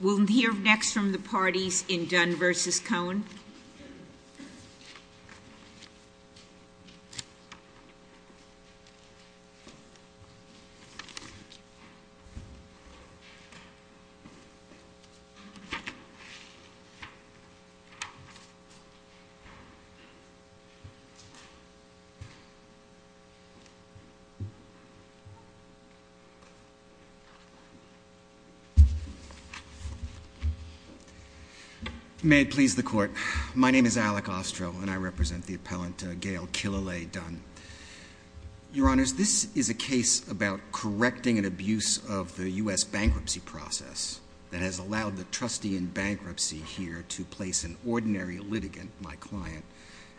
We'll hear next from the parties in Dunne v. Cohen. May it please the Court, my name is Alec Ostro and I represent the appellant Gail Killalay Dunne. Your Honors, this is a case about correcting an abuse of the U.S. bankruptcy process that has allowed the trustee in bankruptcy here to place an ordinary litigant, my client,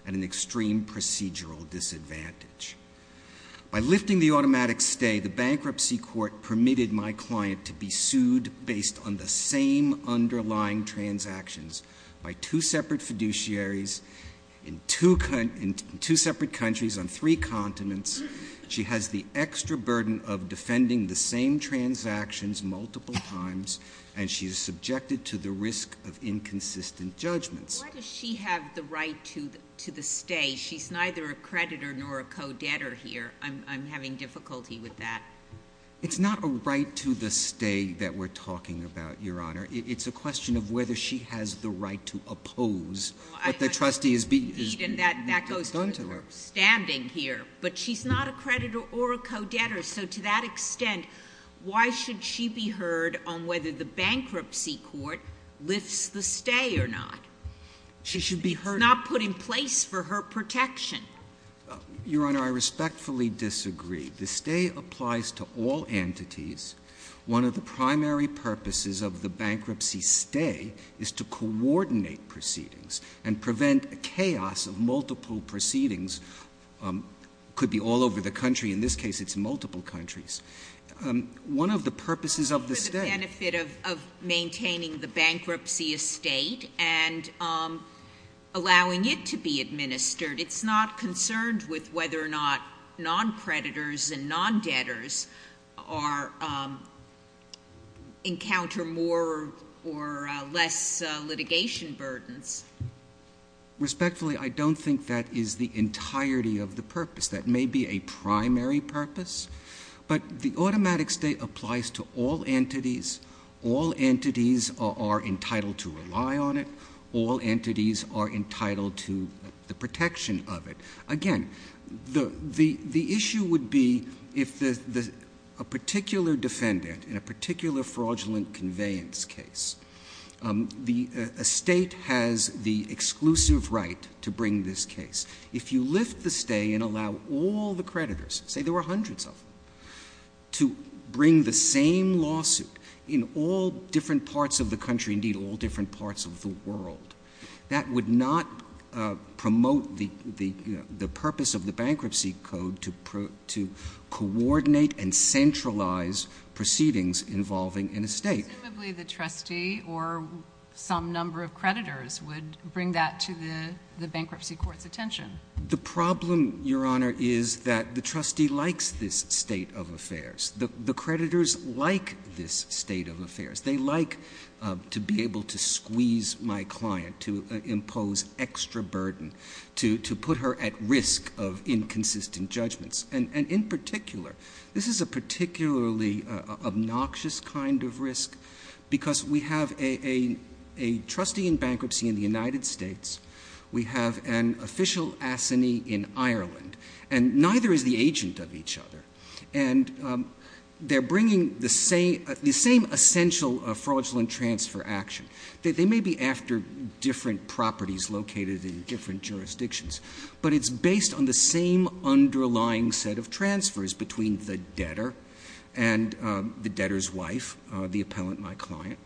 at an extreme procedural disadvantage. By lifting the automatic stay, the bankruptcy court permitted my client to be sued based on the same underlying transactions by two separate fiduciaries in two separate countries on three continents. She has the extra burden of defending the same transactions multiple times and she is subjected to the risk of inconsistent judgments. Why does she have the right to the stay? She's neither a creditor nor a co-debtor here. I'm having difficulty with that. It's not a right to the stay that we're talking about, Your Honor. It's a question of whether she has the right to oppose what the trustee has done to her. That goes to her standing here. But she's not a creditor or a co-debtor. So to that extent, why should she be heard on whether the bankruptcy court lifts the stay or not? She should be heard. Not put in place for her protection. Your Honor, I respectfully disagree. The stay applies to all entities. One of the primary purposes of the bankruptcy stay is to coordinate proceedings and prevent chaos of multiple proceedings. It could be all over the country. In this case, it's multiple countries. One of the purposes of the stay- For the benefit of maintaining the bankruptcy estate and allowing it to be administered. It's not concerned with whether or not non-creditors and non-debtors encounter more or less litigation burdens. Respectfully, I don't think that is the entirety of the purpose. That may be a primary purpose. But the automatic stay applies to all entities. All entities are entitled to rely on it. All entities are entitled to the protection of it. Again, the issue would be if a particular defendant in a particular fraudulent conveyance case, the estate has the exclusive right to bring this case. If you lift the stay and allow all the creditors, say there were hundreds of them, to bring the same lawsuit in all different parts of the country, indeed all different parts of the world, that would not promote the purpose of the bankruptcy code to coordinate and centralize proceedings involving an estate. But presumably the trustee or some number of creditors would bring that to the bankruptcy court's attention. The problem, Your Honor, is that the trustee likes this state of affairs. The creditors like this state of affairs. They like to be able to squeeze my client, to impose extra burden, to put her at risk of inconsistent judgments. And in particular, this is a particularly obnoxious kind of risk because we have a trustee in bankruptcy in the United States. We have an official assignee in Ireland. And neither is the agent of each other. And they're bringing the same essential fraudulent transfer action. They may be after different properties located in different jurisdictions. But it's based on the same underlying set of transfers between the debtor and the debtor's wife, the appellant, my client.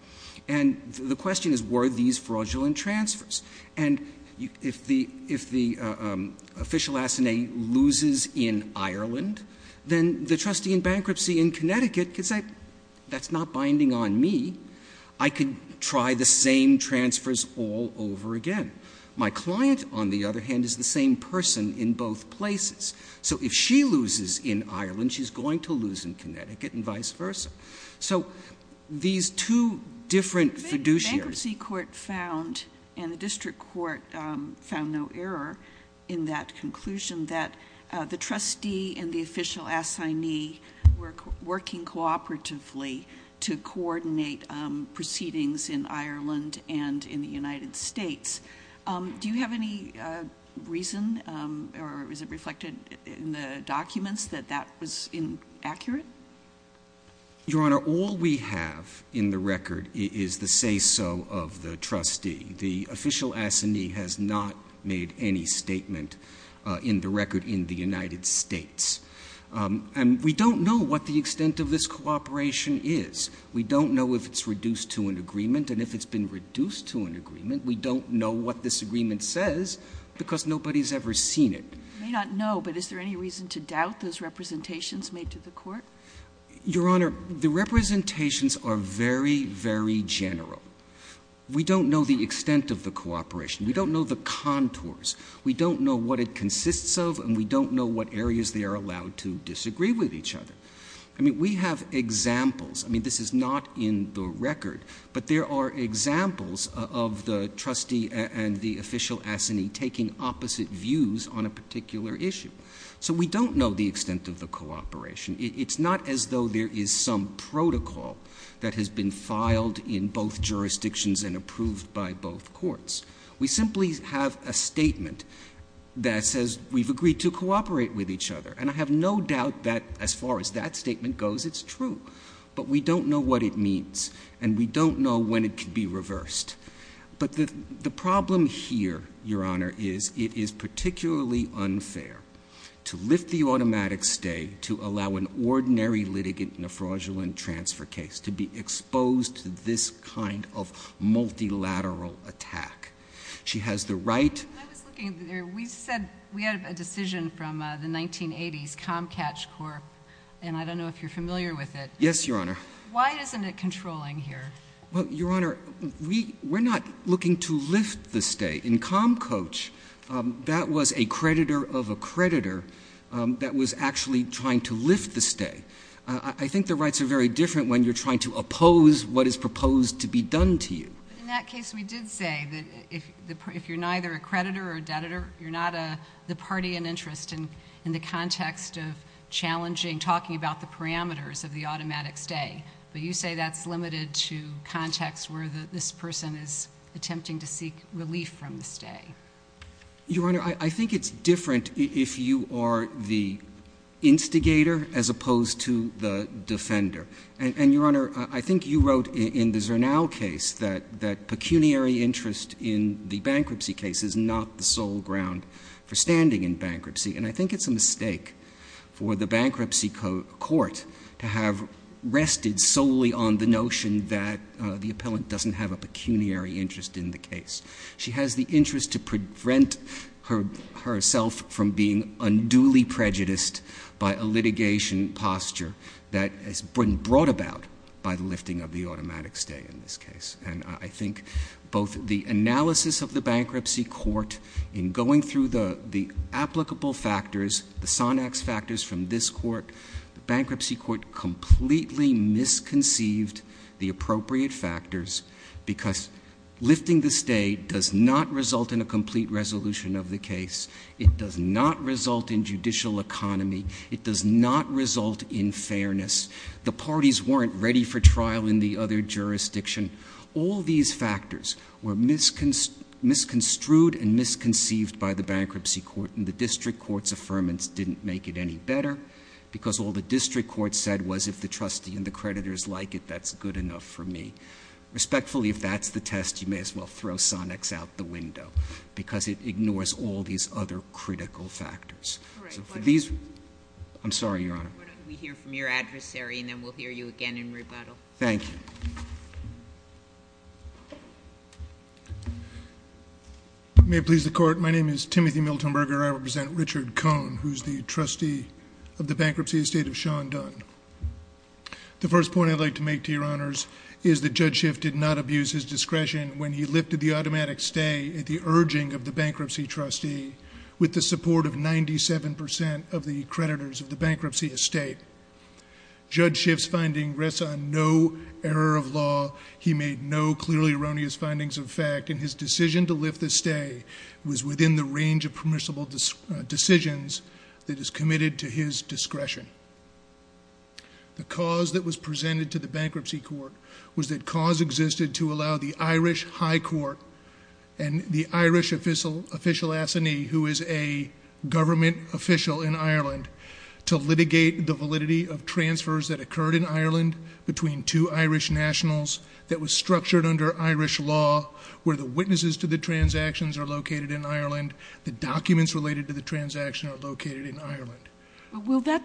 And the question is, were these fraudulent transfers? And if the official assignee loses in Ireland, then the trustee in bankruptcy in Connecticut could say, that's not binding on me. I could try the same transfers all over again. My client, on the other hand, is the same person in both places. So if she loses in Ireland, she's going to lose in Connecticut and vice versa. So these two different fiduciaries. The bankruptcy court found, and the district court found no error in that conclusion, that the trustee and the official assignee were working cooperatively to coordinate proceedings in Ireland and in the United States. Do you have any reason, or is it reflected in the documents, that that was inaccurate? Your Honor, all we have in the record is the say-so of the trustee. The official assignee has not made any statement in the record in the United States. And we don't know what the extent of this cooperation is. We don't know if it's reduced to an agreement. And if it's been reduced to an agreement, we don't know what this agreement says, because nobody's ever seen it. I may not know, but is there any reason to doubt those representations made to the court? Your Honor, the representations are very, very general. We don't know the extent of the cooperation. We don't know the contours. We don't know what it consists of, and we don't know what areas they are allowed to disagree with each other. I mean, we have examples. I mean, this is not in the record. But there are examples of the trustee and the official assignee taking opposite views on a particular issue. So we don't know the extent of the cooperation. It's not as though there is some protocol that has been filed in both jurisdictions and approved by both courts. We simply have a statement that says we've agreed to cooperate with each other. And I have no doubt that, as far as that statement goes, it's true. But we don't know what it means, and we don't know when it could be reversed. But the problem here, Your Honor, is it is particularly unfair to lift the automatic stay to allow an ordinary litigant in a fraudulent transfer case to be exposed to this kind of multilateral attack. She has the right— We said we had a decision from the 1980s, Comcatch Corp., and I don't know if you're familiar with it. Yes, Your Honor. Why isn't it controlling here? Well, Your Honor, we're not looking to lift the stay. In Comcoach, that was a creditor of a creditor that was actually trying to lift the stay. I think the rights are very different when you're trying to oppose what is proposed to be done to you. In that case, we did say that if you're neither a creditor or a debtor, you're not the party in interest in the context of challenging, talking about the parameters of the automatic stay. But you say that's limited to context where this person is attempting to seek relief from the stay. Your Honor, I think it's different if you are the instigator as opposed to the defender. And, Your Honor, I think you wrote in the Zernow case that pecuniary interest in the bankruptcy case is not the sole ground for standing in bankruptcy. And I think it's a mistake for the bankruptcy court to have rested solely on the notion that the appellant doesn't have a pecuniary interest in the case. She has the interest to prevent herself from being unduly prejudiced by a litigation posture that has been brought about by the lifting of the automatic stay in this case. And I think both the analysis of the bankruptcy court in going through the applicable factors, the Sonax factors from this court, the bankruptcy court completely misconceived the appropriate factors because lifting the stay does not result in a complete resolution of the case. It does not result in judicial economy. It does not result in fairness. The parties weren't ready for trial in the other jurisdiction. All these factors were misconstrued and misconceived by the bankruptcy court, and the district court's affirmance didn't make it any better because all the district court said was if the trustee and the creditors like it, that's good enough for me. Respectfully, if that's the test, you may as well throw Sonax out the window because it ignores all these other critical factors. All right. I'm sorry, Your Honor. Why don't we hear from your adversary, and then we'll hear you again in rebuttal. Thank you. May it please the court. My name is Timothy Miltonberger. I represent Richard Cohn, who's the trustee of the bankruptcy estate of Sean Dunn. The first point I'd like to make to Your Honors is that Judge Schiff did not abuse his discretion when he lifted the automatic stay at the urging of the bankruptcy trustee with the support of 97% of the creditors of the bankruptcy estate. Judge Schiff's finding rests on no error of law. He made no clearly erroneous findings of fact, and his decision to lift the stay was within the range of permissible decisions that is committed to his discretion. The cause that was presented to the bankruptcy court was that cause existed to allow the Irish High Court and the Irish official assignee, who is a government official in Ireland, to litigate the validity of transfers that occurred in Ireland between two Irish nationals that was structured under Irish law where the witnesses to the transactions are located in Ireland, the documents related to the transaction are located in Ireland. When a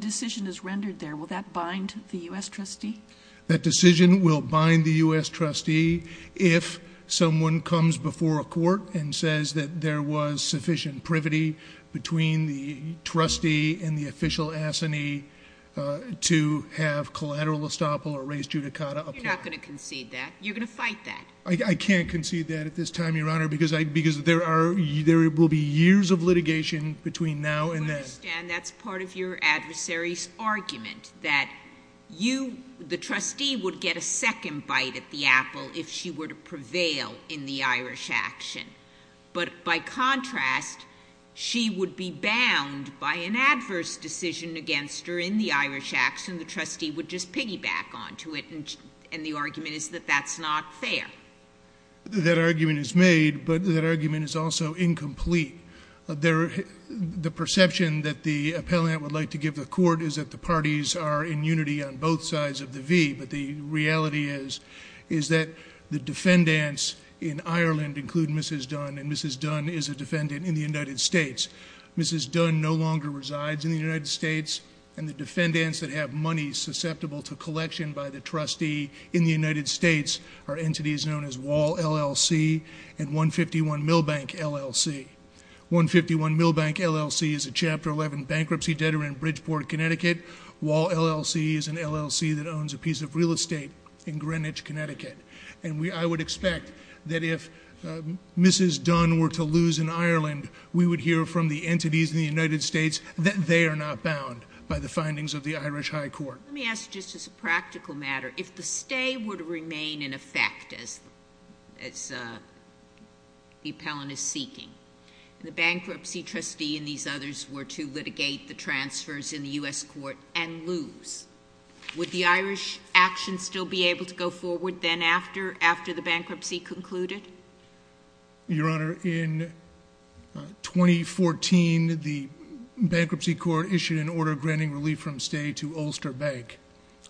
decision is rendered there, will that bind the U.S. trustee? That decision will bind the U.S. trustee if someone comes before a court and says that there was sufficient privity between the trustee and the official assignee to have collateral estoppel or res judicata apply. You're not going to concede that. You're going to fight that. I can't concede that at this time, Your Honor, because there will be years of litigation between now and then. I understand that's part of your adversary's argument, that the trustee would get a second bite at the apple if she were to prevail in the Irish action. But by contrast, she would be bound by an adverse decision against her in the Irish action. The trustee would just piggyback onto it, and the argument is that that's not fair. That argument is made, but that argument is also incomplete. The perception that the appellant would like to give the court is that the parties are in unity on both sides of the V, but the reality is that the defendants in Ireland include Mrs. Dunn, and Mrs. Dunn is a defendant in the United States. Mrs. Dunn no longer resides in the United States, and the defendants that have money susceptible to collection by the trustee in the United States are entities known as Wall LLC and 151 Milbank LLC. 151 Milbank LLC is a Chapter 11 bankruptcy debtor in Bridgeport, Connecticut. Wall LLC is an LLC that owns a piece of real estate in Greenwich, Connecticut. And I would expect that if Mrs. Dunn were to lose in Ireland, we would hear from the entities in the United States that they are not bound by the findings of the Irish High Court. Let me ask just as a practical matter, if the stay were to remain in effect as the appellant is seeking, and the bankruptcy trustee and these others were to litigate the transfers in the U.S. court and lose, would the Irish action still be able to go forward then after the bankruptcy concluded? Your Honor, in 2014, the bankruptcy court issued an order granting relief from stay to Ulster Bank,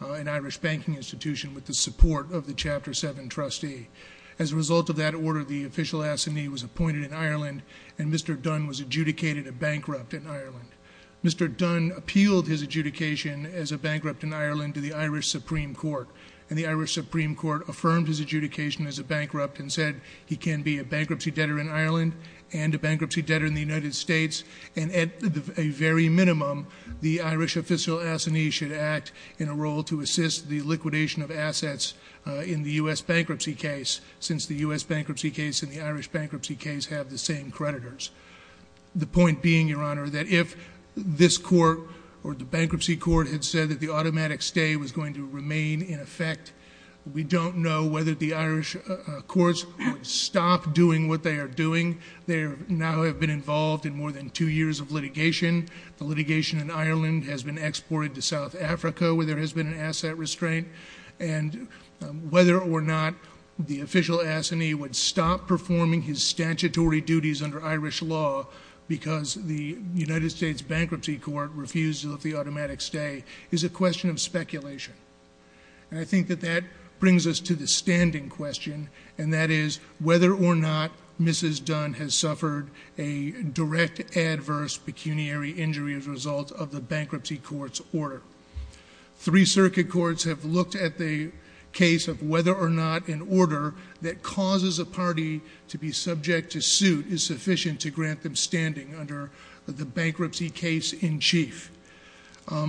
an Irish banking institution with the support of the Chapter 7 trustee. As a result of that order, the official assignee was appointed in Ireland and Mr. Dunn was adjudicated a bankrupt in Ireland. Mr. Dunn appealed his adjudication as a bankrupt in Ireland to the Irish Supreme Court. And the Irish Supreme Court affirmed his adjudication as a bankrupt and said he can be a bankruptcy debtor in Ireland and a bankruptcy debtor in the United States. And at a very minimum, the Irish official assignee should act in a role to assist the liquidation of assets in the U.S. bankruptcy case, since the U.S. bankruptcy case and the Irish bankruptcy case have the same creditors. The point being, Your Honor, that if this court or the bankruptcy court had said that the automatic stay was going to remain in effect, we don't know whether the Irish courts would stop doing what they are doing. They now have been involved in more than two years of litigation. The litigation in Ireland has been exported to South Africa where there has been an asset restraint. And whether or not the official assignee would stop performing his statutory duties under Irish law because the United States Bankruptcy Court refused to let the automatic stay is a question of speculation. And I think that that brings us to the standing question, and that is whether or not Mrs. Dunn has suffered a direct adverse pecuniary injury as a result of the bankruptcy court's order. Three circuit courts have looked at the case of whether or not an order that causes a party to be subject to suit is sufficient to grant them standing under the bankruptcy case in chief.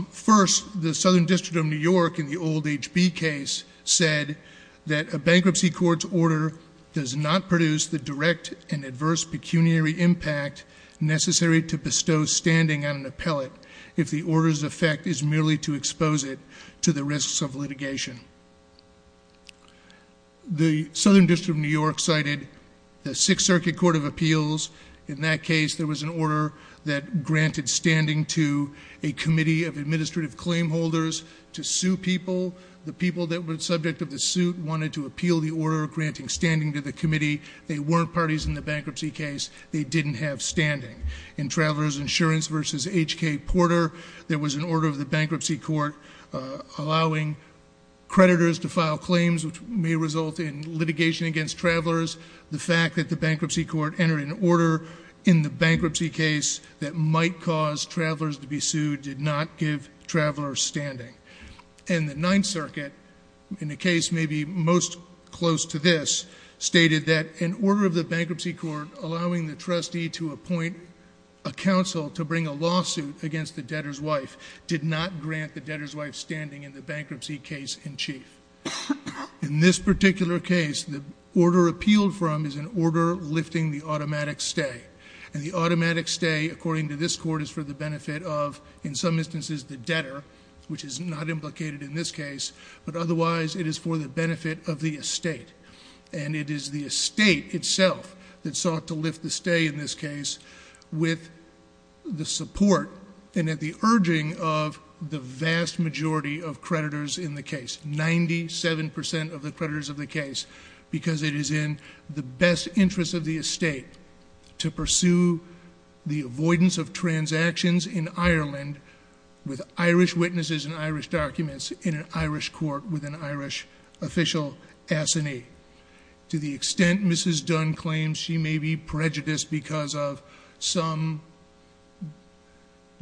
First, the Southern District of New York, in the old HB case, said that a bankruptcy court's order does not produce the direct and adverse pecuniary impact necessary to bestow standing on an appellate if the order's effect is merely to expose it to the risks of litigation. The Southern District of New York cited the Sixth Circuit Court of Appeals. In that case, there was an order that granted standing to a committee of administrative claim holders to sue people. The people that were subject of the suit wanted to appeal the order granting standing to the committee. They weren't parties in the bankruptcy case. They didn't have standing. In Travelers Insurance v. H.K. Porter, there was an order of the bankruptcy court allowing creditors to file claims which may result in litigation against travelers. The fact that the bankruptcy court entered an order in the bankruptcy case that might cause travelers to be sued did not give travelers standing. And the Ninth Circuit, in a case maybe most close to this, stated that an order of the bankruptcy court allowing the trustee to appoint a counsel to bring a lawsuit against the debtor's wife did not grant the debtor's wife standing in the bankruptcy case in chief. In this particular case, the order appealed from is an order lifting the automatic stay. And the automatic stay, according to this court, is for the benefit of, in some instances, the debtor, which is not implicated in this case, but otherwise it is for the benefit of the estate. And it is the estate itself that sought to lift the stay in this case with the support and at the urging of the vast majority of creditors in the case, 97% of the creditors of the case, because it is in the best interest of the estate to pursue the avoidance of transactions in Ireland with Irish witnesses and Irish documents in an Irish court with an Irish official assignee. To the extent Mrs. Dunn claims she may be prejudiced because of some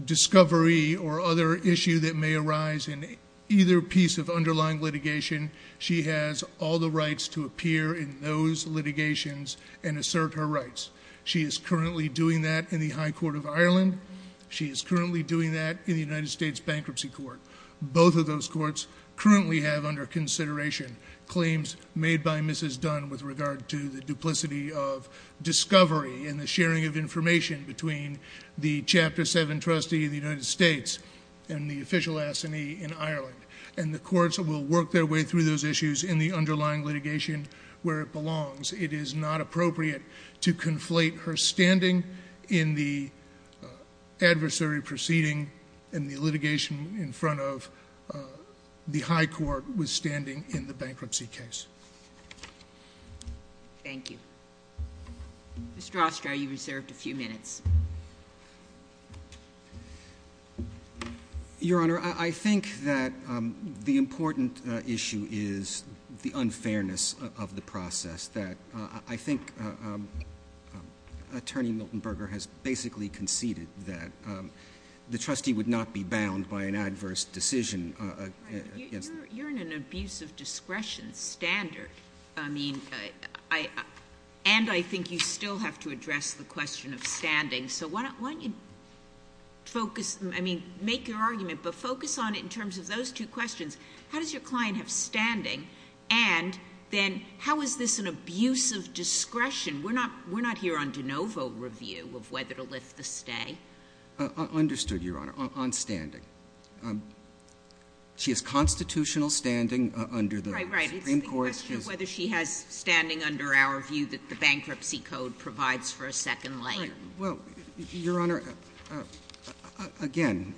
discovery or other issue that may arise in either piece of underlying litigation, she has all the rights to appear in those litigations and assert her rights. She is currently doing that in the High Court of Ireland. She is currently doing that in the United States Bankruptcy Court. Both of those courts currently have under consideration claims made by Mrs. Dunn with regard to the duplicity of discovery and the sharing of information between the Chapter 7 trustee in the United States and the official assignee in Ireland. And the courts will work their way through those issues in the underlying litigation where it belongs. It is not appropriate to conflate her standing in the adversary proceeding and the litigation in front of the High Court with standing in the bankruptcy case. Thank you. Mr. Oster, you're reserved a few minutes. Your Honor, I think that the important issue is the unfairness of the process. I think Attorney Milton Berger has basically conceded that the trustee would not be bound by an adverse decision. You're in an abuse of discretion standard, and I think you still have to address the question of standing. So why don't you focus, I mean, make your argument, but focus on it in terms of those two questions. How does your client have standing? And then how is this an abuse of discretion? We're not here on de novo review of whether to lift the stay. Understood, Your Honor, on standing. She has constitutional standing under the Supreme Court. Right, right. It's the question of whether she has standing under our view that the bankruptcy code provides for a second layer. Well, Your Honor, again,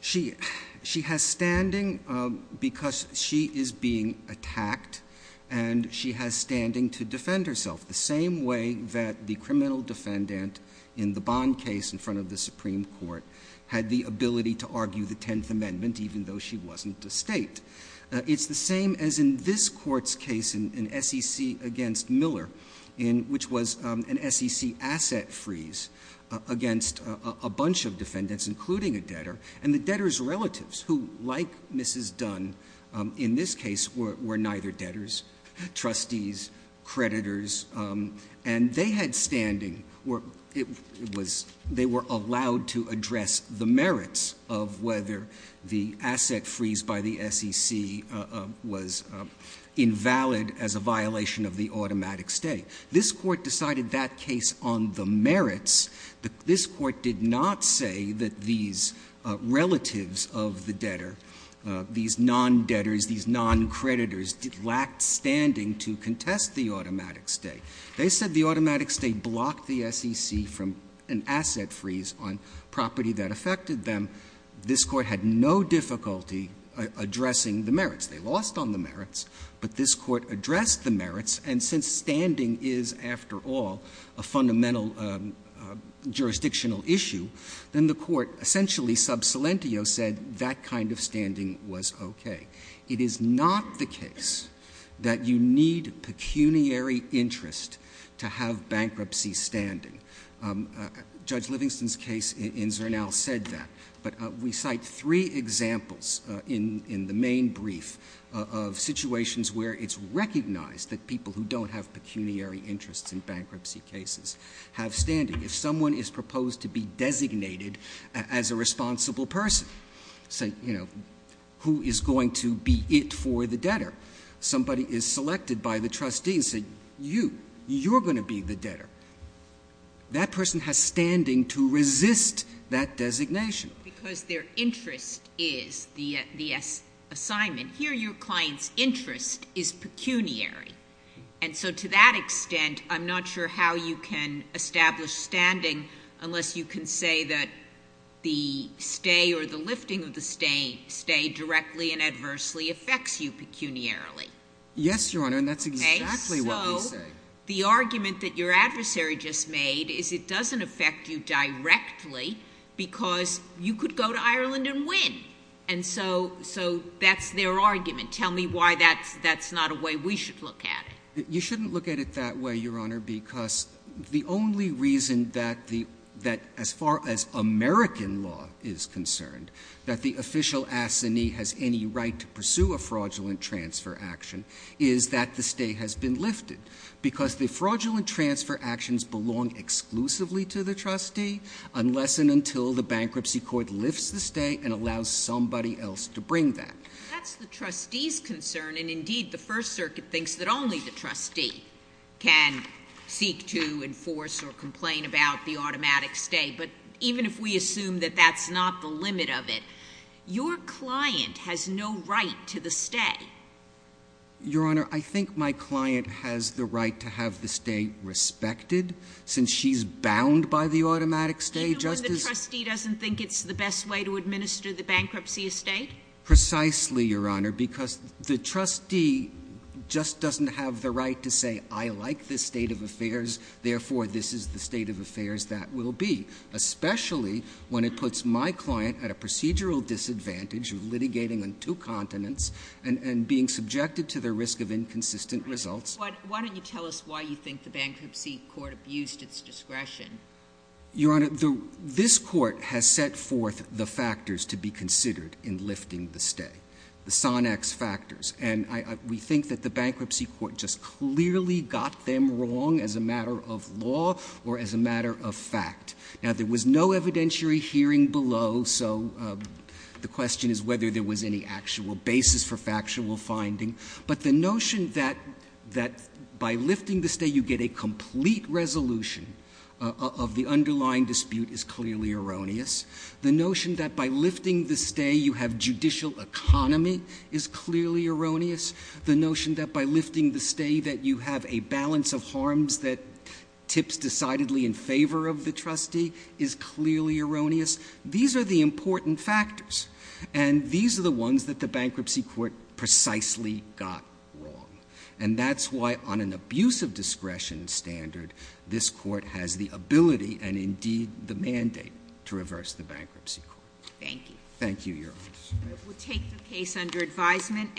she has standing because she is being attacked, and she has standing to defend herself the same way that the criminal defendant in the Bond case in front of the Supreme Court had the ability to argue the Tenth Amendment even though she wasn't a state. It's the same as in this Court's case in SEC against Miller, which was an SEC asset freeze against a bunch of defendants, including a debtor, and the debtor's relatives who, like Mrs. Dunn in this case, were neither debtors, trustees, creditors, and they had standing, or they were allowed to address the merits of whether the asset freeze by the SEC was invalid as a violation of the automatic stay. This Court decided that case on the merits. This Court did not say that these relatives of the debtor, these non-debtors, these non-creditors, lacked standing to contest the automatic stay. They said the automatic stay blocked the SEC from an asset freeze on property that affected them. This Court had no difficulty addressing the merits. They lost on the merits, but this Court addressed the merits, and since standing is, after all, a fundamental jurisdictional issue, then the Court essentially sub silentio said that kind of standing was okay. It is not the case that you need pecuniary interest to have bankruptcy standing. Judge Livingston's case in Zernal said that, but we cite three examples in the main brief of situations where it's recognized that people who don't have pecuniary interests in bankruptcy cases have standing. If someone is proposed to be designated as a responsible person, say, you know, who is going to be it for the debtor? Somebody is selected by the trustee and said, you, you're going to be the debtor. That person has standing to resist that designation. Because their interest is the assignment. Here your client's interest is pecuniary. And so to that extent, I'm not sure how you can establish standing unless you can say that the stay or the lifting of the stay directly and adversely affects you pecuniarily. Yes, Your Honor, and that's exactly what they say. Okay, so the argument that your adversary just made is it doesn't affect you directly because you could go to Ireland and win. And so that's their argument. Tell me why that's not a way we should look at it. You shouldn't look at it that way, Your Honor, because the only reason that as far as American law is concerned, that the official assignee has any right to pursue a fraudulent transfer action, is that the stay has been lifted. Because the fraudulent transfer actions belong exclusively to the trustee unless and until the bankruptcy court lifts the stay and allows somebody else to bring that. That's the trustee's concern, and indeed the First Circuit thinks that only the trustee can seek to enforce or complain about the automatic stay. But even if we assume that that's not the limit of it, your client has no right to the stay. Your Honor, I think my client has the right to have the stay respected. Since she's bound by the automatic stay just as... Even when the trustee doesn't think it's the best way to administer the bankruptcy estate? Precisely, Your Honor, because the trustee just doesn't have the right to say, I like this state of affairs, therefore this is the state of affairs that will be. Especially when it puts my client at a procedural disadvantage of litigating on two continents and being subjected to the risk of inconsistent results. Why don't you tell us why you think the bankruptcy court abused its discretion? Your Honor, this court has set forth the factors to be considered in lifting the stay. The Sonax factors. And we think that the bankruptcy court just clearly got them wrong as a matter of law or as a matter of fact. Now, there was no evidentiary hearing below, so the question is whether there was any actual basis for factual finding. But the notion that by lifting the stay you get a complete resolution of the underlying dispute is clearly erroneous. The notion that by lifting the stay you have judicial economy is clearly erroneous. The notion that by lifting the stay that you have a balance of harms that tips decidedly in favor of the trustee is clearly erroneous. These are the important factors. And these are the ones that the bankruptcy court precisely got wrong. And that's why on an abuse of discretion standard, this court has the ability and indeed the mandate to reverse the bankruptcy court. Thank you. Thank you, Your Honor. We'll take the case under advisement.